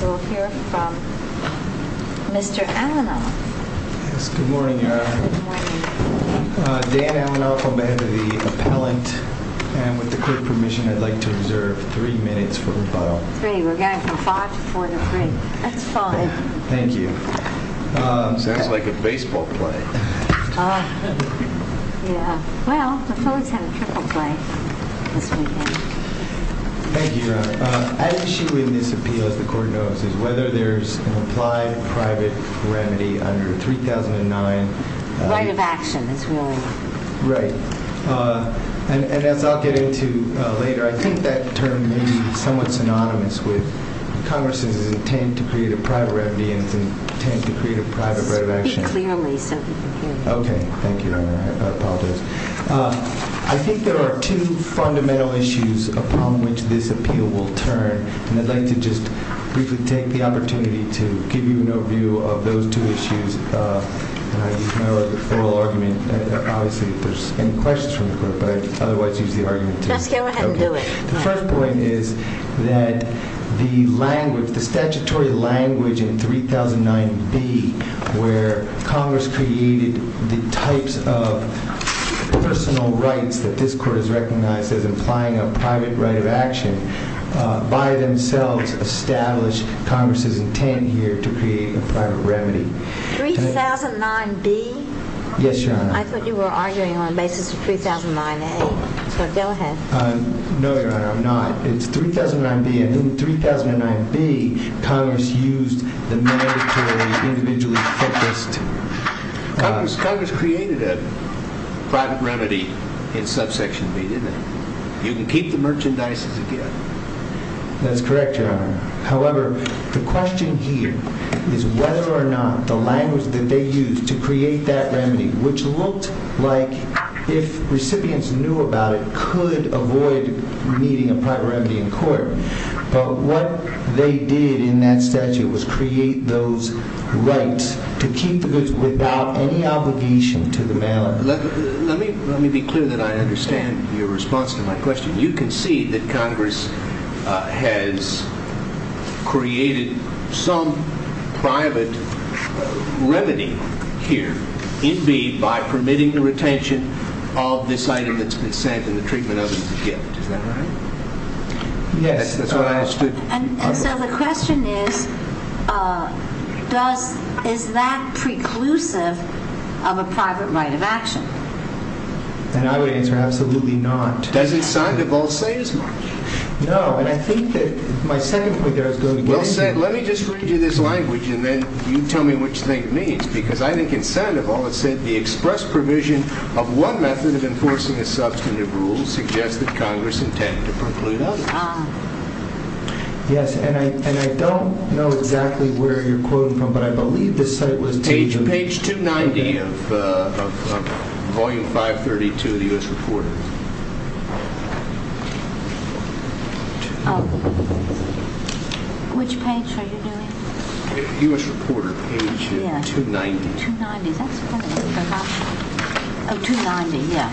We'll hear from Mr. Alanoff. Yes, good morning, Your Honor. Good morning. Dan Alanoff, on behalf of the appellant, and with the court permission, I'd like to observe three minutes for rebuttal. Three, we're going from five to four to three. That's fine. Thank you. Sounds like a baseball play. Yeah, well, the Phillies had a triple play this weekend. Thank you, Your Honor. An issue in this appeal, as the court knows, is whether there's an applied private remedy under 3009. Right of action, as we all know. Right. And as I'll get into later, I think that term may be somewhat synonymous with Congress's intent to create a private remedy and its intent to create a private right of action. Speak clearly so people can hear you. Okay. Thank you, Your Honor. I apologize. I think there are two fundamental issues upon which this appeal will turn, and I'd like to just briefly take the opportunity to give you an overview of those two issues. And I'll use my oral argument. Obviously, if there's any questions from the court, but I'd otherwise use the argument, too. Just go ahead and do it. The first point is that the statutory language in 3009B, where Congress created the types of personal rights that this court has recognized as implying a private right of action, by themselves established Congress's intent here to create a private remedy. 3009B? Yes, Your Honor. I thought you were arguing on the basis of 3009A. So go ahead. No, Your Honor, I'm not. It's 3009B. And in 3009B, Congress used the mandatory individually focused... Congress created a private remedy in subsection B, didn't it? You can keep the merchandises again. That's correct, Your Honor. However, the question here is whether or not the language that they used to create that remedy, which looked like if recipients knew about it, could avoid needing a private remedy in court. But what they did in that statute was create those rights to keep the goods without any obligation to the mailer. Let me be clear that I understand your response to my question. You concede that Congress has created some private remedy here in B by permitting the retention of this item that's been sent and the treatment of it as a gift. Is that right? Yes. And so the question is, is that preclusive of a private right of action? And I would answer absolutely not. Doesn't Sandoval say as much? No, and I think that my second point there is going to be... Well, let me just read you this language and then you tell me which thing it means. Because I think in Sandoval it said the express provision of one method of enforcing a substantive rule suggests that Congress intended to preclude others. Yes, and I don't know exactly where you're quoting from, but I believe this site was page... Page 290 of Volume 532 of the U.S. Reporter. Which page are you doing? U.S. Reporter, page 290. 290, that's funny. Oh, 290, yeah.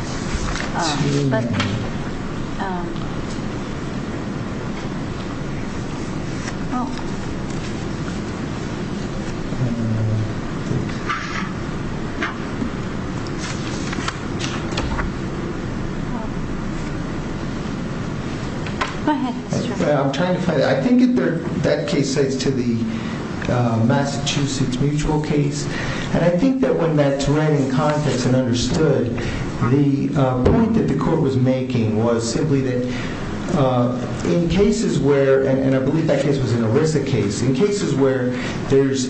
Go ahead, Mr. I'm trying to find... I think that case cites to the Massachusetts Mutual case. And I think that when that's read in context and understood, the point that the court was making was simply that in cases where... And I believe that case was an ERISA case. In cases where there's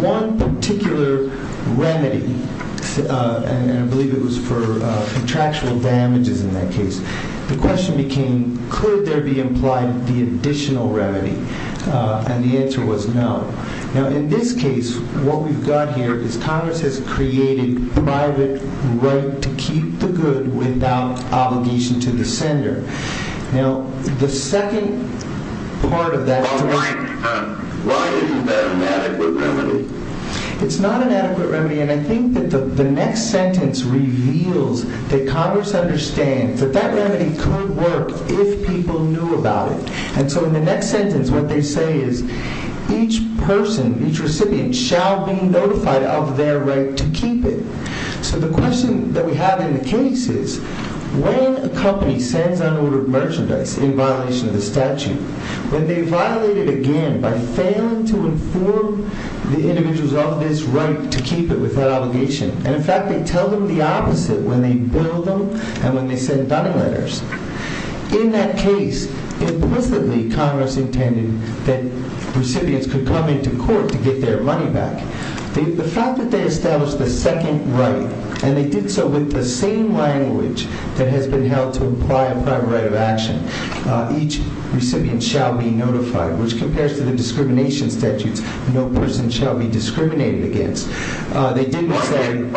one particular remedy, and I believe it was for contractual damages in that case, the question became, could there be implied the additional remedy? And the answer was no. Now, in this case, what we've got here is Congress has created private right to keep the good without obligation to the sender. Now, the second part of that... It's not an adequate remedy. And I think that the next sentence reveals that Congress understands that that remedy could work if people knew about it. And so in the next sentence, what they say is, each person, each recipient, shall be notified of their right to keep it. So the question that we have in the case is, when a company sends unordered merchandise in violation of the statute, when they violate it again by failing to inform the individuals of this right to keep it without obligation, and, in fact, they tell them the opposite when they bill them and when they send donor letters, in that case, implicitly, Congress intended that recipients could come into court to get their money back. The fact that they established the second right, and they did so with the same language that has been held to imply a private right of action, each recipient shall be notified, which compares to the discrimination statutes, no person shall be discriminated against. They didn't say...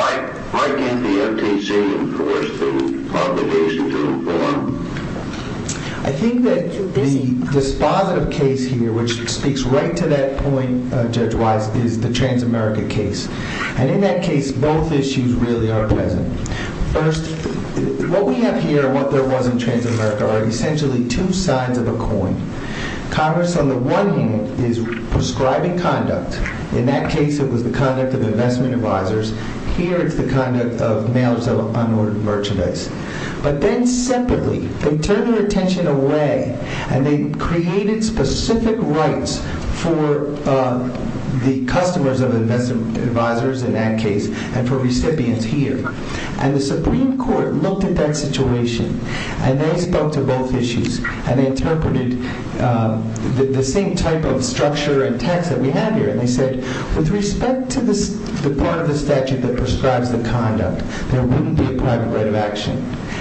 I think that the dispositive case here, which speaks right to that point, judge Wise, is the Transamerica case. And in that case, both issues really are present. First, what we have here and what there was in Transamerica are essentially two sides of a coin. Congress, on the one hand, is prescribing conduct. In that case, it was the conduct of investment advisors. Here, it's the conduct of mailers of unordered merchandise. But then, separately, they turned their attention away, and they created specific rights for the customers of investment advisors, in that case, and for recipients here. And the Supreme Court looked at that situation, and they spoke to both issues, and they interpreted the same type of structure and text that we have here, and they said, with respect to the part of the statute that prescribes the conduct, there wouldn't be a private right of action.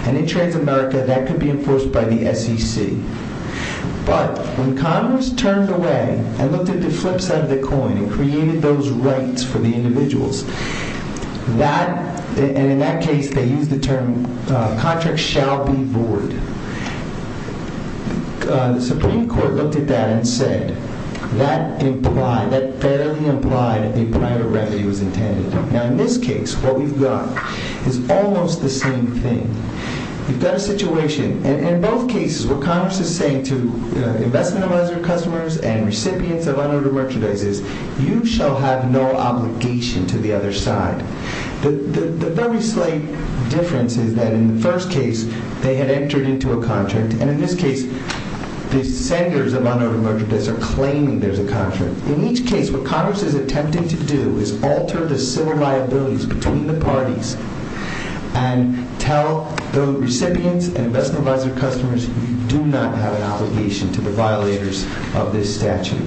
And in Transamerica, that could be enforced by the SEC. But, when Congress turned away and looked at the flip side of the coin, and created those rights for the individuals, that, and in that case, they used the term, contract shall be void. The Supreme Court looked at that and said, that implied, that fairly implied that a private remedy was intended. Now, in this case, what we've got is almost the same thing. We've got a situation, and in both cases, what Congress is saying to investment advisor customers and recipients of unordered merchandise is, you shall have no obligation to the other side. The very slight difference is that, in the first case, they had entered into a contract, and in this case, the senders of unordered merchandise are claiming there's a contract. In each case, what Congress is attempting to do is alter the civil liabilities between the parties and tell the recipients and investment advisor customers, you do not have an obligation to the violators of this statute.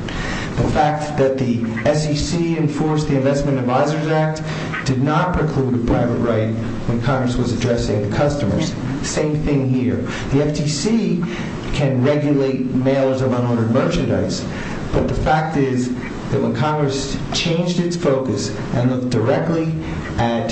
The fact that the SEC enforced the Investment Advisors Act did not preclude a private right when Congress was addressing the customers. Same thing here. The FTC can regulate mailers of unordered merchandise, but the fact is that when Congress changed its focus and looked directly at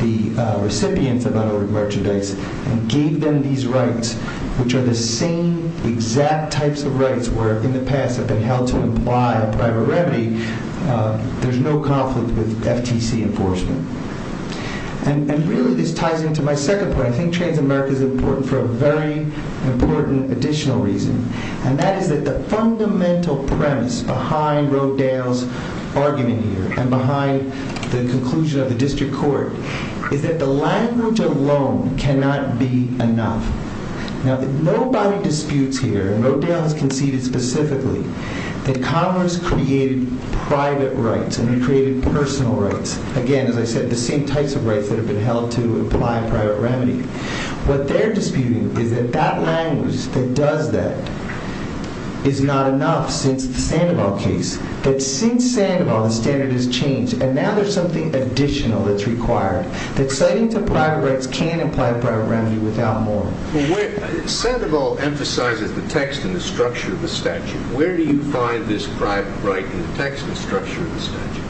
the recipients of unordered merchandise and gave them these rights, which are the same exact types of rights where, in the past, have been held to imply a private remedy, there's no conflict with FTC enforcement. And really, this ties into my second point. I think Transamerica is important for a very important additional reason, and that is that the fundamental premise behind Rodale's argument here and behind the conclusion of the district court is that the language alone cannot be enough. Now, nobody disputes here, and Rodale has conceded specifically, that Congress created private rights and created personal rights. Again, as I said, the same types of rights that have been held to imply a private remedy. What they're disputing is that that language that does that is not enough since the Sandoval case. But since Sandoval, the standard has changed, and now there's something additional that's required, that citing to private rights can imply a private remedy without more. Well, Sandoval emphasizes the text and the structure of the statute. Where do you find this private right in the text and the structure of the statute?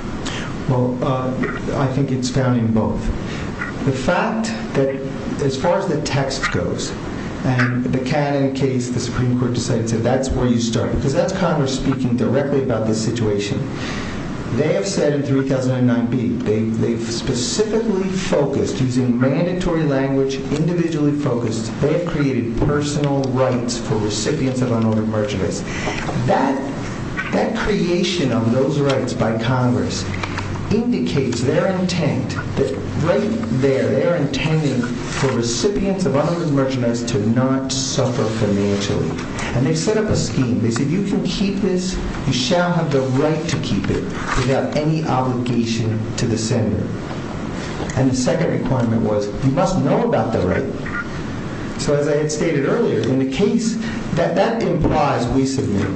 Well, I think it's found in both. The fact that as far as the text goes, and the Cannon case, the Supreme Court decided that's where you start, because that's Congress speaking directly about this situation. They have said in 3009B, they've specifically focused, using mandatory language, individually focused, they have created personal rights for recipients of unordered merchandise. That creation of those rights by Congress indicates their intent that right there, they're intending for recipients of unordered merchandise to not suffer financially. And they've set up a scheme. They said, you can keep this, you shall have the right to keep it without any obligation to the sender. And the second requirement was, you must know about the right. So as I had stated earlier, in the case that that implies, we submit,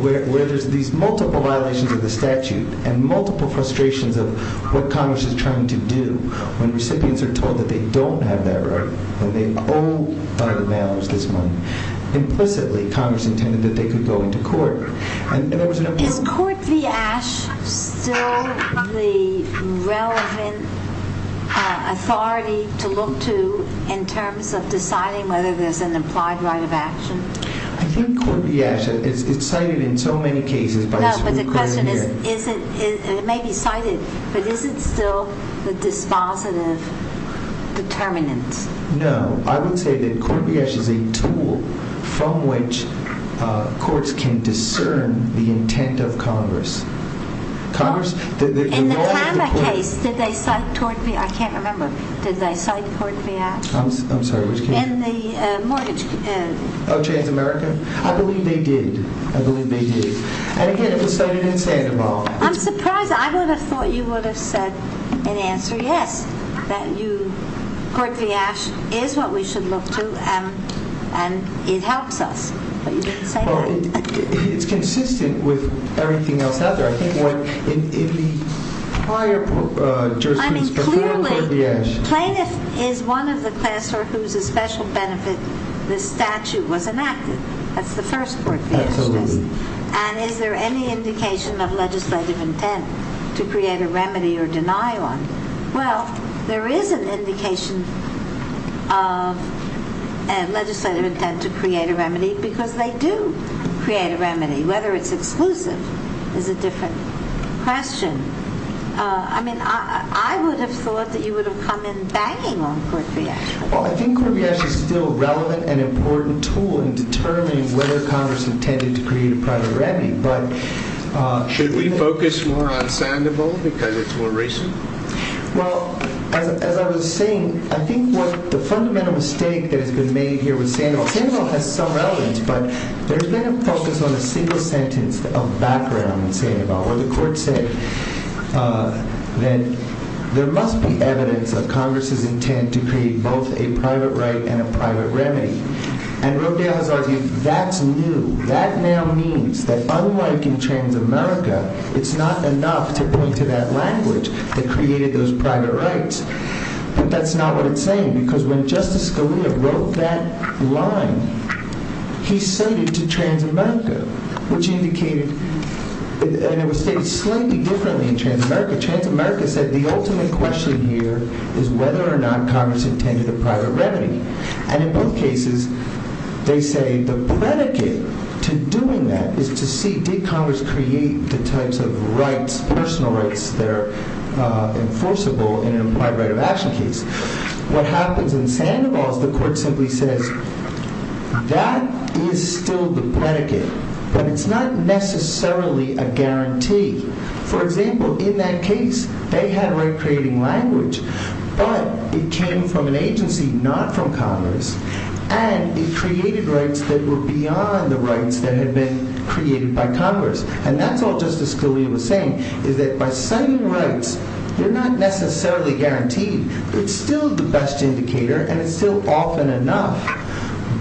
where there's these multiple violations of the statute and multiple frustrations of what Congress is trying to do when recipients are told that they don't have that right, that they owe unbalanced this money. Implicitly, Congress intended that they could go into court. Is Court v. Ashe still the relevant authority to look to in terms of deciding whether there's an implied right of action? I think Court v. Ashe, it's cited in so many cases by the Supreme Court. But the question is, and it may be cited, but is it still the dispositive determinant? No. I would say that Court v. Ashe is a tool from which courts can discern the intent of Congress. In the Tama case, did they cite Court v. Ashe? I can't remember. Did they cite Court v. Ashe? I'm sorry, which case? In the mortgage case. Oh, Chains of America? I believe they did. I believe they did. And, again, it was cited in Sandoval. I'm surprised. I would have thought you would have said in answer, yes, that Court v. Ashe is what we should look to and it helps us. But you didn't say that. It's consistent with everything else out there. I think in the prior jurisprudence before Court v. Ashe. Clearly, plaintiff is one of the class whose special benefit this statute was enacted. That's the first Court v. Ashe case. And is there any indication of legislative intent to create a remedy or deny one? Well, there is an indication of legislative intent to create a remedy because they do create a remedy. Whether it's exclusive is a different question. I mean, I would have thought that you would have come in banging on Court v. Ashe. I think Court v. Ashe is still a relevant and important tool in determining whether Congress intended to create a private remedy. Should we focus more on Sandoval because it's more recent? Well, as I was saying, I think the fundamental mistake that has been made here with Sandoval, Sandoval has some relevance, but there's been a focus on a single sentence of background in Sandoval where the Court said that there must be evidence of Congress's intent to create both a private right and a private remedy. And Rodeo has argued that's new. That now means that unlike in Transamerica, it's not enough to point to that language that created those private rights. But that's not what it's saying because when Justice Scalia wrote that line, he cited to Transamerica, which indicated, and it was stated slightly differently in Transamerica. Transamerica said the ultimate question here is whether or not Congress intended a private remedy. And in both cases, they say the predicate to doing that is to see did Congress create the types of rights, personal rights, that are enforceable in an implied right of action case. What happens in Sandoval is the Court simply says, that is still the predicate, but it's not necessarily a guarantee. For example, in that case, they had a right creating language, but it came from an agency, not from Congress, and it created rights that were beyond the rights that had been created by Congress. And that's all Justice Scalia was saying, is that by citing rights, they're not necessarily guaranteed. It's still the best indicator, and it's still often enough.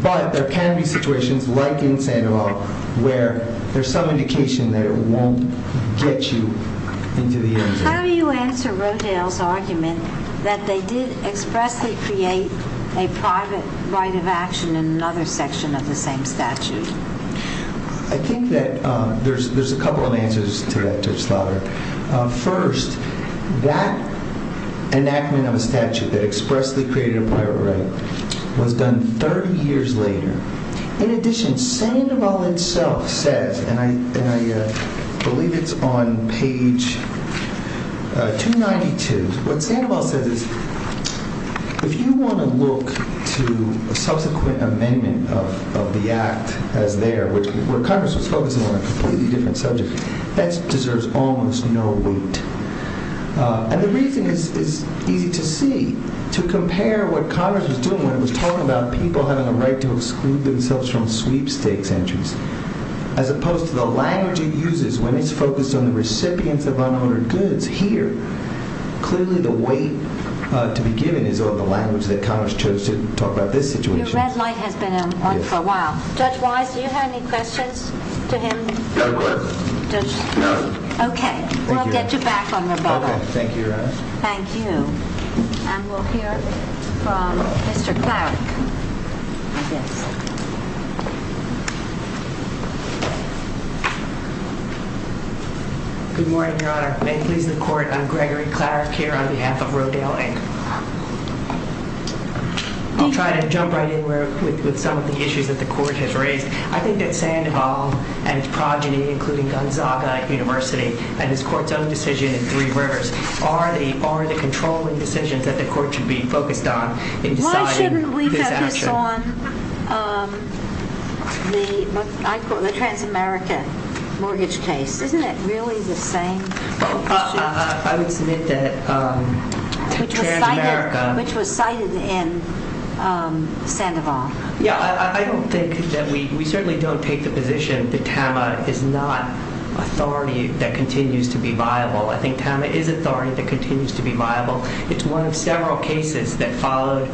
But there can be situations like in Sandoval where there's some indication that it won't get you into the end game. How do you answer Rodale's argument that they did expressly create a private right of action in another section of the same statute? I think that there's a couple of answers to that, Judge Slaughter. First, that enactment of a statute that expressly created a private right was done 30 years later. In addition, Sandoval itself says, and I believe it's on page 292, what Sandoval says is, if you want to look to a subsequent amendment of the Act as there, where Congress was focusing on a completely different subject, that deserves almost no weight. And the reason is easy to see. To compare what Congress was doing when it was talking about people having a right to exclude themselves from sweepstakes entries as opposed to the language it uses when it's focused on the recipients of unowned goods. Here, clearly the weight to be given is on the language that Congress chose to talk about this situation. Your red light has been on for a while. Judge Wise, do you have any questions to him? No questions. Judge? No. Okay. We'll get you back on rebuttal. Okay. Thank you, Your Honor. Thank you. And we'll hear from Mr. Clarke. Good morning, Your Honor. May it please the Court, I'm Gregory Clarke here on behalf of Rodale, Inc. I'll try to jump right in with some of the issues that the Court has raised. I think that Sandoval and his progeny, including Gonzaga University, and his Court's own decision in Three Rivers, are the controlling decisions that the Court should be focused on in deciding this action. Based on the Transamerica mortgage case, isn't it really the same? I would submit that Transamerica Which was cited in Sandoval. Yeah, I don't think that we certainly don't take the position that TAMA is not authority that continues to be viable. I think TAMA is authority that continues to be viable. It's one of several cases that followed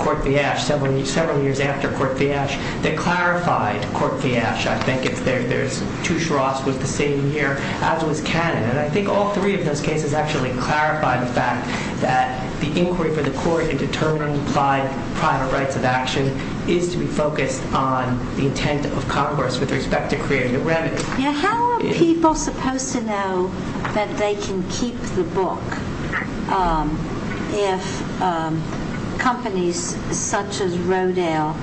Court v. Ashe, several years after Court v. Ashe, that clarified Court v. Ashe. I think it's there. Tusharovs was the same here, as was Cannon. And I think all three of those cases actually clarify the fact that the inquiry for the Court and determined by private rights of action is to be focused on the intent of Congress with respect to creating a revenue. How are people supposed to know that they can keep the book if companies such as Rodale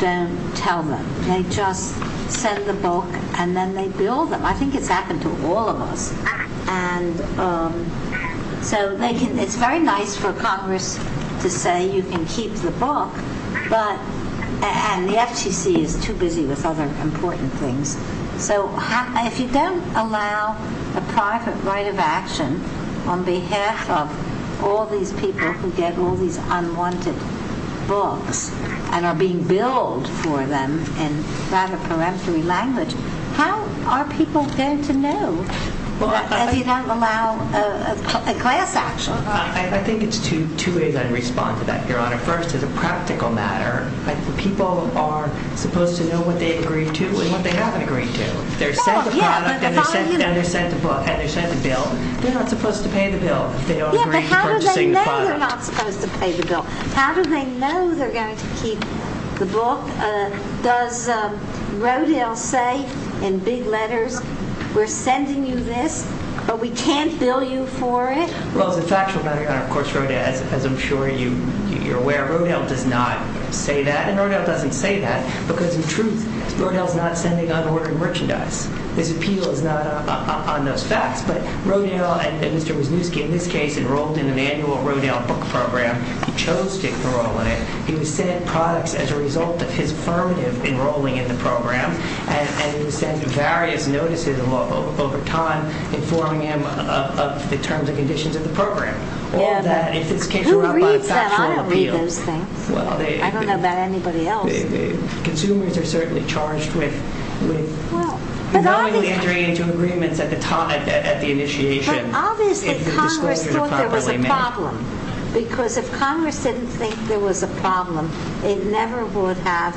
don't tell them? They just send the book and then they bill them. I think it's happened to all of us. It's very nice for Congress to say you can keep the book, and the FTC is too busy with other important things. If you don't allow a private right of action on behalf of all these people who get all these unwanted books and are being billed for them in rather peremptory language, how are people going to know if you don't allow a class action? I think it's two ways I'd respond to that, Your Honor. First, as a practical matter, people are supposed to know what they agree to and what they haven't agreed to. They're sent the product and they're sent the book and they're sent the bill. They're not supposed to pay the bill if they don't agree to purchasing the product. But how do they know they're not supposed to pay the bill? How do they know they're going to keep the book? Does Rodale say in big letters, we're sending you this, but we can't bill you for it? Well, as a factual matter, Your Honor, of course, as I'm sure you're aware, Rodale does not say that, and Rodale doesn't say that because, in truth, Rodale's not sending unordered merchandise. His appeal is not on those facts, but Rodale, and Mr. Wisniewski in this case, enrolled in an annual Rodale book program. He chose to enroll in it. He was sent products as a result of his affirmative enrolling in the program, and he was sent various notices over time informing him of the terms and conditions of the program. All of that, if it's categorized by factual appeal... Who reads that? I don't read those things. I don't know about anybody else. Consumers are certainly charged with knowingly entering into agreements at the time, at the initiation. But obviously Congress thought there was a problem because if Congress didn't think there was a problem, it never would have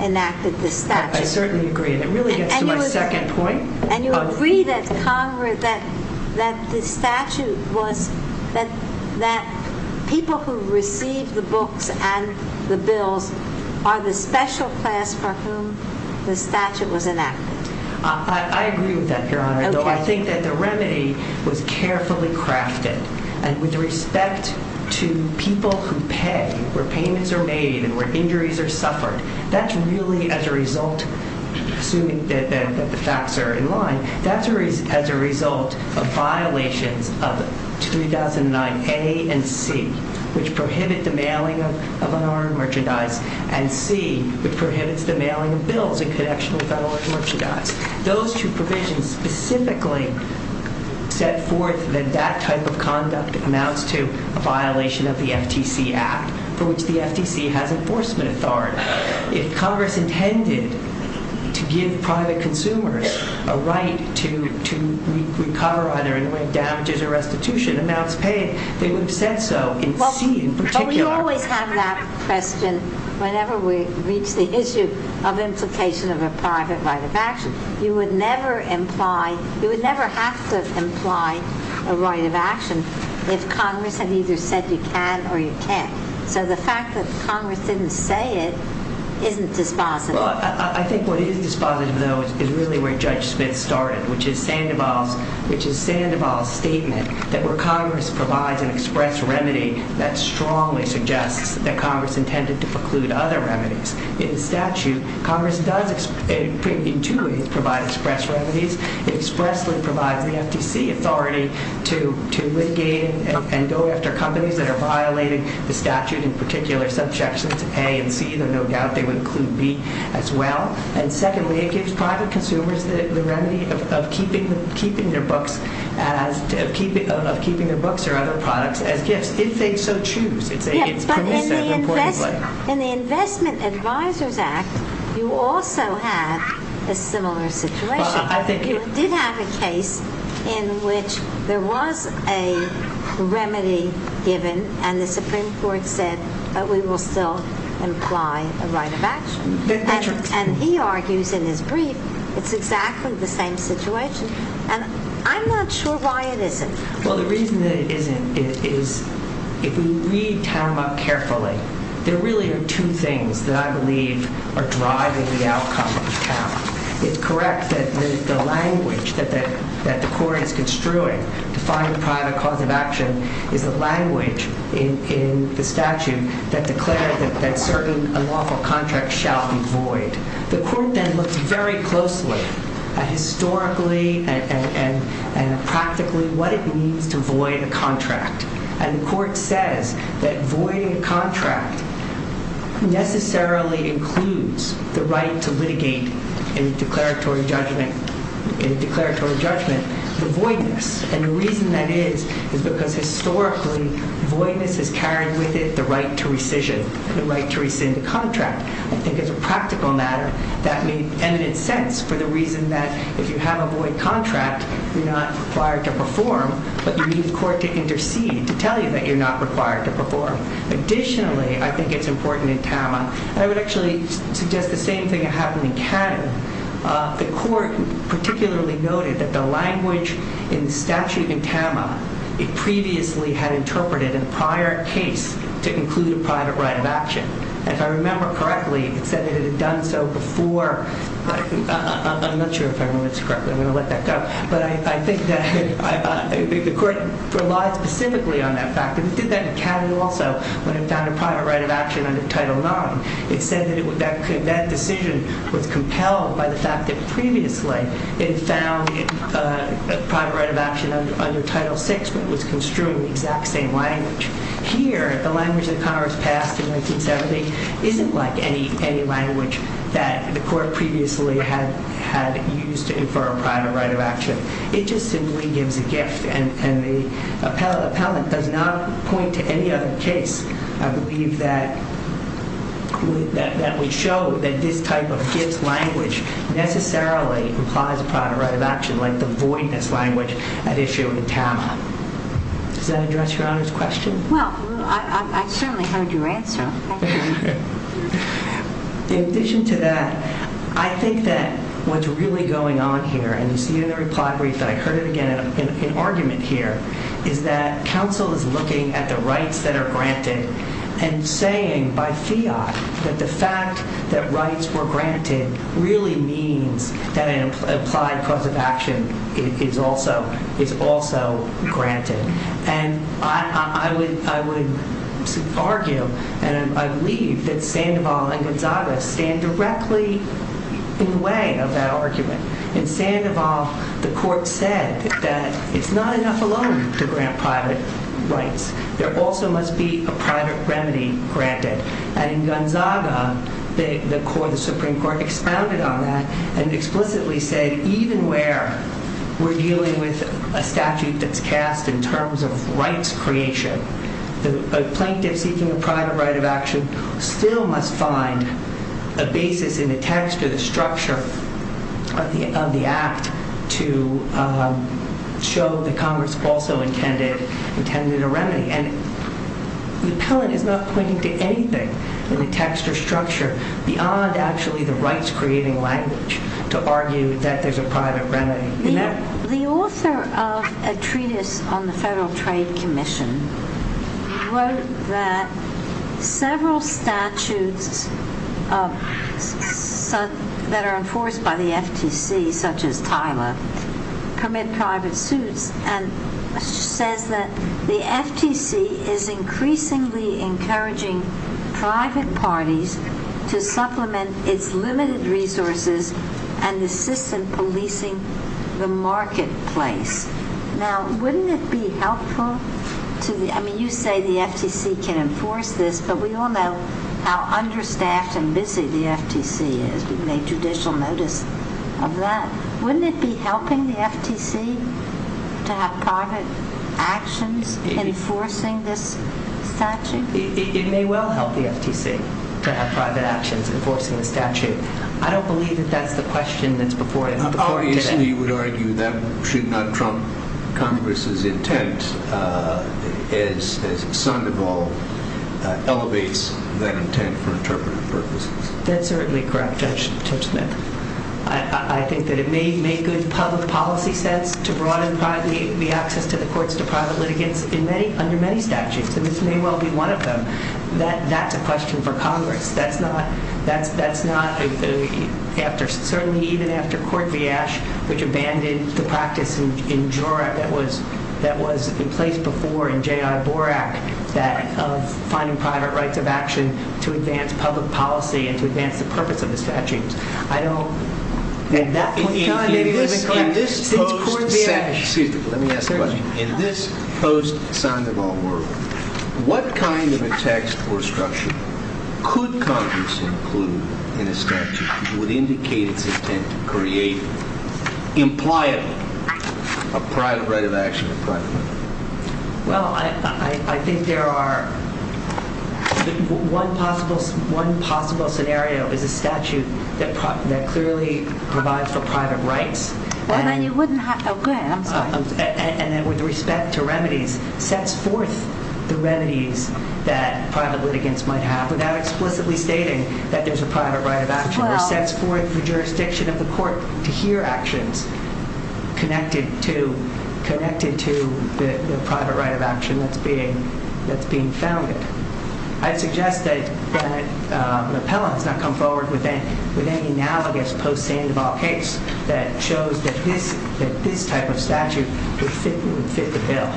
enacted the statute. I certainly agree, and it really gets to my second point. And you agree that the statute was that people who received the books and the bills are the special class for whom the statute was enacted. I agree with that, Your Honor. I think that the remedy was carefully crafted. And with respect to people who pay, where payments are made and where injuries are suffered, that's really as a result, assuming that the facts are in line, that's as a result of violations of 2009A and C, which prohibit the mailing of unarmed merchandise, and C, which prohibits the mailing of bills in connection with unarmed merchandise. Those two provisions specifically set forth that that type of conduct amounts to a violation of the FTC Act, for which the FTC has enforcement authority. If Congress intended to give private consumers a right to require damages or restitution amounts paid, they would have said so in C in particular. But we always have that question whenever we reach the issue of implication of a private right of action. You would never have to imply a right of action if Congress had either said you can or you can't. So the fact that Congress didn't say it isn't dispositive. I think what is dispositive, though, is really where Judge Smith started, which is Sandoval's statement, that where Congress provides an express remedy, that strongly suggests that Congress intended to preclude other remedies. In statute, Congress does, in two ways, provide express remedies. It expressly provides the FTC authority to litigate and go after companies that are violating the statute, in particular subsections A and C, though no doubt they would include B as well. And secondly, it gives private consumers the remedy of keeping their books or other products as gifts, if they so choose. But in the Investment Advisors Act, you also have a similar situation. You did have a case in which there was a remedy given, and the Supreme Court said we will still imply a right of action. And he argues in his brief it's exactly the same situation. And I'm not sure why it isn't. Well, the reason that it isn't is if we read TAM up carefully, there really are two things that I believe are driving the outcome of TAM. It's correct that the language that the Court is construing to find a private cause of action is the language in the statute that declared that certain unlawful contracts shall be void. The Court then looked very closely at historically and practically what it means to void a contract. And the Court says that voiding a contract necessarily includes the right to litigate in declaratory judgment the voidness. And the reason that is is because historically, voidness has carried with it the right to rescission, the right to rescind a contract. I think as a practical matter, that made eminent sense for the reason that if you have a void contract, you're not required to perform, but you need the Court to intercede to tell you that you're not required to perform. Additionally, I think it's important in TAM, and I would actually suggest the same thing happened in Canada. The Court particularly noted that the language in the statute in TAM it previously had interpreted in a prior case to include a private right of action. If I remember correctly, it said it had done so before. I'm not sure if I remember this correctly. I'm going to let that go. But I think that the Court relied specifically on that fact. It did that in Canada also when it found a private right of action under Title IX. It said that that decision was compelled by the fact that under Title VI, it was construed in the exact same language. Here, the language that Congress passed in 1970 isn't like any language that the Court previously had used to infer a private right of action. It just simply gives a gift, and the appellant does not point to any other case, I believe, that would show that this type of gift language necessarily implies a private right of action like the voidness language at issue in TAMA. Does that address Your Honor's question? Well, I certainly heard your answer. In addition to that, I think that what's really going on here, and you see in the reply brief that I heard it again in argument here, is that counsel is looking at the rights that are granted and saying by fiat that the fact that rights were granted really means that an applied cause of action is also granted. And I would argue, and I believe, that Sandoval and Gonzaga stand directly in the way of that argument. In Sandoval, the Court said that it's not enough alone to grant private rights. There also must be a private remedy granted. And in Gonzaga, the Supreme Court expounded on that and explicitly said even where we're dealing with a statute that's cast in terms of rights creation, the plaintiff seeking a private right of action still must find a basis in the text or the structure of the act to show that Congress also intended a remedy. And the appellant is not pointing to anything in the text or structure beyond actually the rights-creating language to argue that there's a private remedy. The author of a treatise on the Federal Trade Commission wrote that several statutes that are enforced by the FTC, such as TILA, permit private suits and says that the FTC is increasingly encouraging private parties to supplement its limited resources and assist in policing the marketplace. Now, wouldn't it be helpful? I mean, you say the FTC can enforce this, but we all know how understaffed and busy the FTC is. We've made judicial notice of that. Wouldn't it be helping the FTC to have private actions enforcing this statute? It may well help the FTC to have private actions enforcing the statute. I don't believe that that's the question that's before you today. Obviously, you would argue that should not trump Congress's intent as Sandoval elevates that intent for interpretive purposes. That's certainly correct, Judge Smith. I think that it may good public policy sense to broaden the access to the courts to private litigants under many statutes, and this may well be one of them. That's a question for Congress. That's not, certainly even after Court v. Ash, which abandoned the practice in Jura that was in place before in J.I. Borak, that of finding private rights of action to advance public policy and to advance the purpose of the statutes. In this post-Sandoval world, what kind of a text or structure could Congress include in a statute that would indicate its intent to create, impliably, a private right of action? Well, I think there are... One possible scenario is a statute that clearly provides for private rights. And then you wouldn't have... Oh, go ahead. I'm sorry. And then with respect to remedies, sets forth the remedies that private litigants might have without explicitly stating that there's a private right of action. It sets forth the jurisdiction of the court to hear actions connected to the private right of action that's being founded. I'd suggest that an appellant has not come forward with any analogous post-Sandoval case that shows that this type of statute would fit the bill.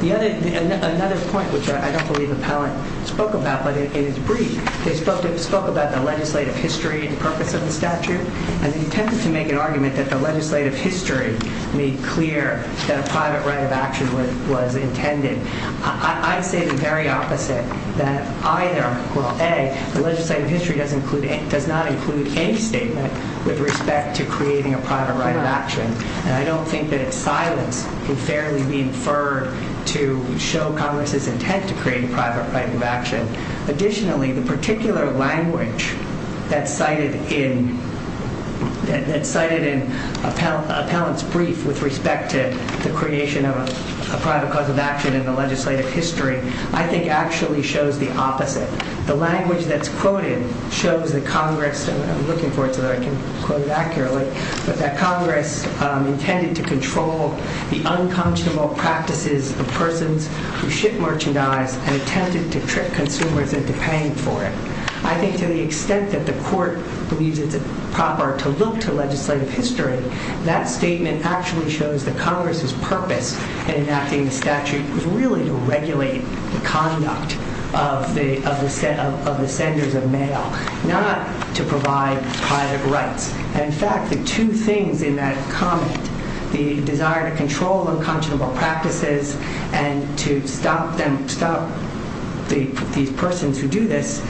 Another point, which I don't believe an appellant spoke about, but it is brief, they spoke about the legislative history and the purpose of the statute and the intent to make an argument that the legislative history made clear that a private right of action was intended. I say the very opposite, that either, well, A, the legislative history does not include any statement with respect to creating a private right of action. And I don't think that silence can fairly be inferred to show Congress's intent to create a private right of action. Additionally, the particular language that's cited that's cited in appellant's brief with respect to the creation of a private cause of action in the legislative history, I think, actually shows the opposite. The language that's quoted shows that Congress, and I'm looking for it so that I can quote it accurately, but that Congress intended to control the unconscionable practices of persons who ship merchandise and attempted to trick consumers into paying for it. I think to the extent that the court believes it's proper to look to legislative history, that statement actually shows that Congress's purpose in enacting the statute was really to regulate the conduct of the senders of mail, not to provide private rights. And in fact, the two things in that comment, the desire to control unconscionable practices and to stop these persons who do this,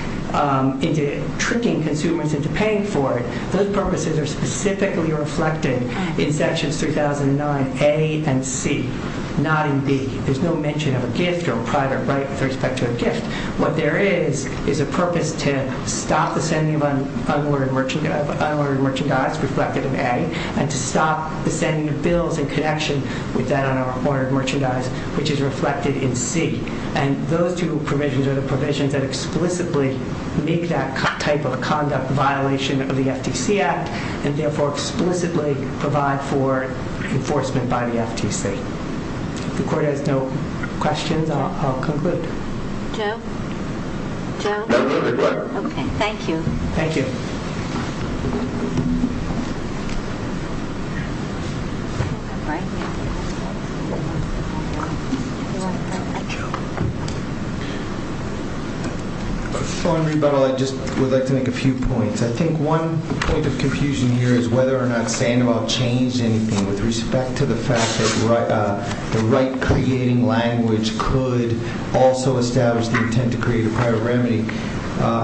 into tricking consumers into paying for it, those purposes are specifically reflected in sections 3009A and C, not in B. There's no mention of a gift or a private right with respect to a gift. What there is, is a purpose to stop the sending of unordered merchandise reflected in A, and to stop the sending of bills in connection with that unordered merchandise which is reflected in C. And those two provisions are the provisions that explicitly make that type of conduct a violation of the FTC Act and therefore explicitly provide for enforcement by the FTC. If the court has no questions, I'll conclude. Joe? Joe? No, we're good. Okay, thank you. Thank you. Before I rebuttal, I just would like to make a few points. I think one point of confusion here is whether or not Sandoval changed anything with respect to the fact that the right creating language could also establish the intent to create a private remedy.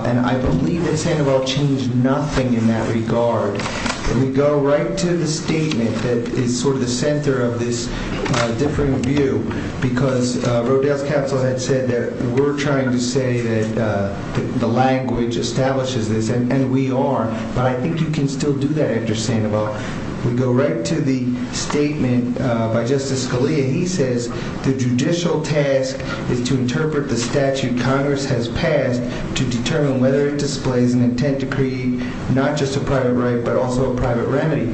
And I believe that Sandoval changed nothing in that regard. We go right to the statement that is sort of the center of this differing view because Rodel's counsel had said that we're trying to say that the language establishes this, and we are, but I think you can still do that after Sandoval. We go right to the statement by Justice Scalia. He says, The judicial task is to interpret the statute Congress has passed to determine whether it displays an intent to create not just a private right but also a private remedy.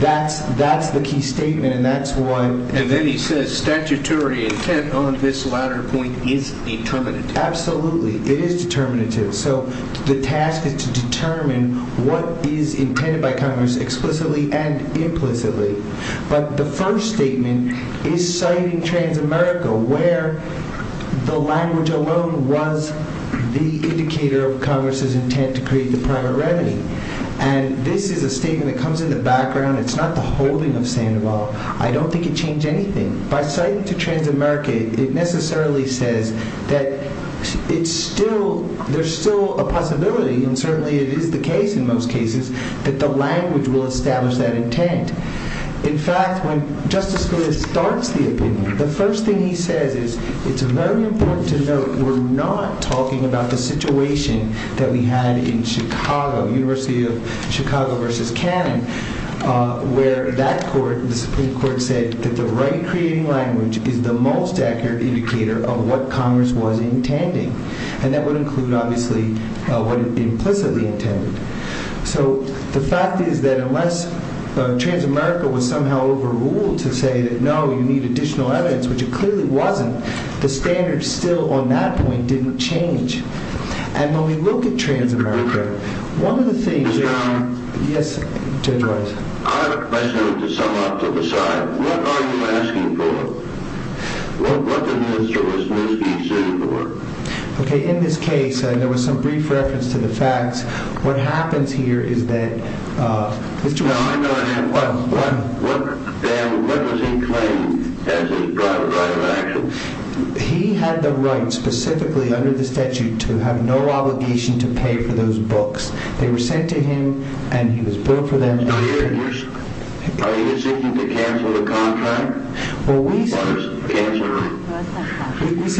That's the key statement, and that's what And then he says, Statutory intent on this latter point is determinative. Absolutely. It is determinative. So the task is to determine what is intended by Congress explicitly and implicitly. But the first statement is citing Transamerica, where the language alone was the indicator of Congress's intent to create the private remedy. And this is a statement that comes in the background. It's not the holding of Sandoval. I don't think it changed anything. By citing to Transamerica, it necessarily says that there's still a possibility, and certainly it is the case in most cases, that the language will establish that intent. In fact, when Justice Scalia starts the opinion, the first thing he says is, It's very important to note we're not talking about the situation that we had in Chicago, University of Chicago versus Cannon, where that court, the Supreme Court, said that the right creating language is the most accurate indicator of what Congress was intending. And that would include, obviously, what it implicitly intended. So the fact is that unless Transamerica was somehow overruled to say that, No, you need additional evidence, which it clearly wasn't, the standards still on that point didn't change. And when we look at Transamerica, Now, I have a question to sum up to the side. What are you asking for? What did Mr. Wisniewski say to the court? Now, I'm going to ask, what does he claim as his private right of action? They were sent to him, and he was brought for them. Are you insisting to cancel the contract? Well, we say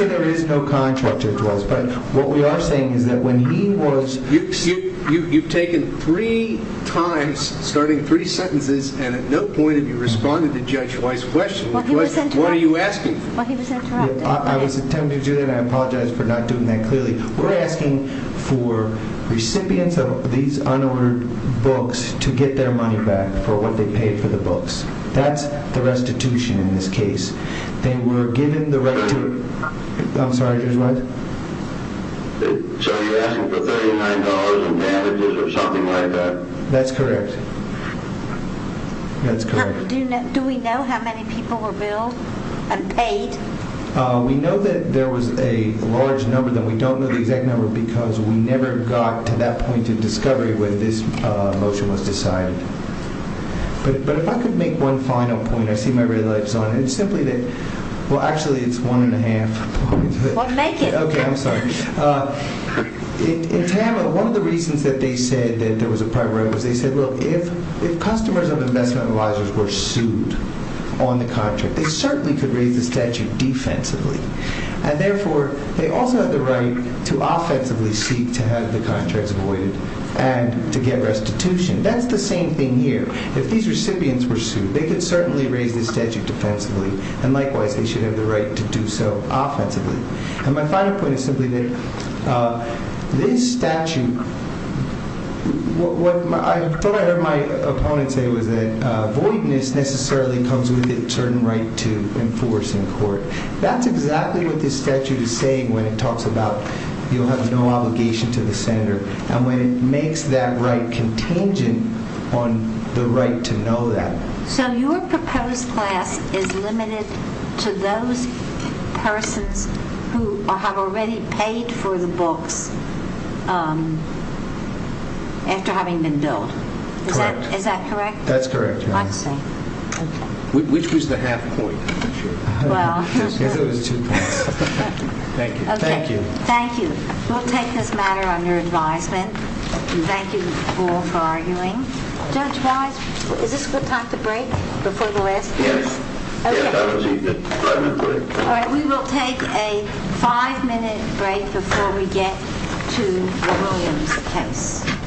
there is no contract. But what we are saying is that when he was... You've taken three times, starting three sentences, and at no point have you responded to Judge Wise's question. What are you asking for? I was attempting to do that, and I apologize for not doing that clearly. We're asking for recipients of these unordered books to get their money back for what they paid for the books. That's the restitution in this case. They were given the right to... I'm sorry, Judge Wise? So you're asking for $39 in damages or something like that? That's correct. That's correct. Do we know how many people were billed and paid? We know that there was a large number. Then we don't know the exact number because we never got to that point of discovery when this motion was decided. But if I could make one final point, I see my red lights on. It's simply that... Well, actually, it's one and a half points. Well, make it. Okay, I'm sorry. In Tama, one of the reasons that they said that there was a private right was they said, look, if customers of investment advisors were sued on the contract, they certainly could raise the statute defensively. And therefore, they also had the right to offensively seek to have the contracts voided and to get restitution. That's the same thing here. If these recipients were sued, they could certainly raise the statute defensively. And likewise, they should have the right to do so offensively. And my final point is simply that this statute... What I thought I heard my opponent say was that voidness necessarily comes with a certain right to enforce in court. That's exactly what this statute is saying when it talks about you have no obligation to the senator and when it makes that right contingent on the right to know that. So your proposed class is limited to those persons who have already paid for the books after having been billed. Is that correct? That's correct. I see. Which was the half point? Well... It was two points. Thank you. Thank you. Thank you. We'll take this matter under advisement. Thank you all for arguing. Judge Wise, is this a good time to break before the last case? Yes. Okay. We will take a five-minute break before we get to the Williams case. Thank you.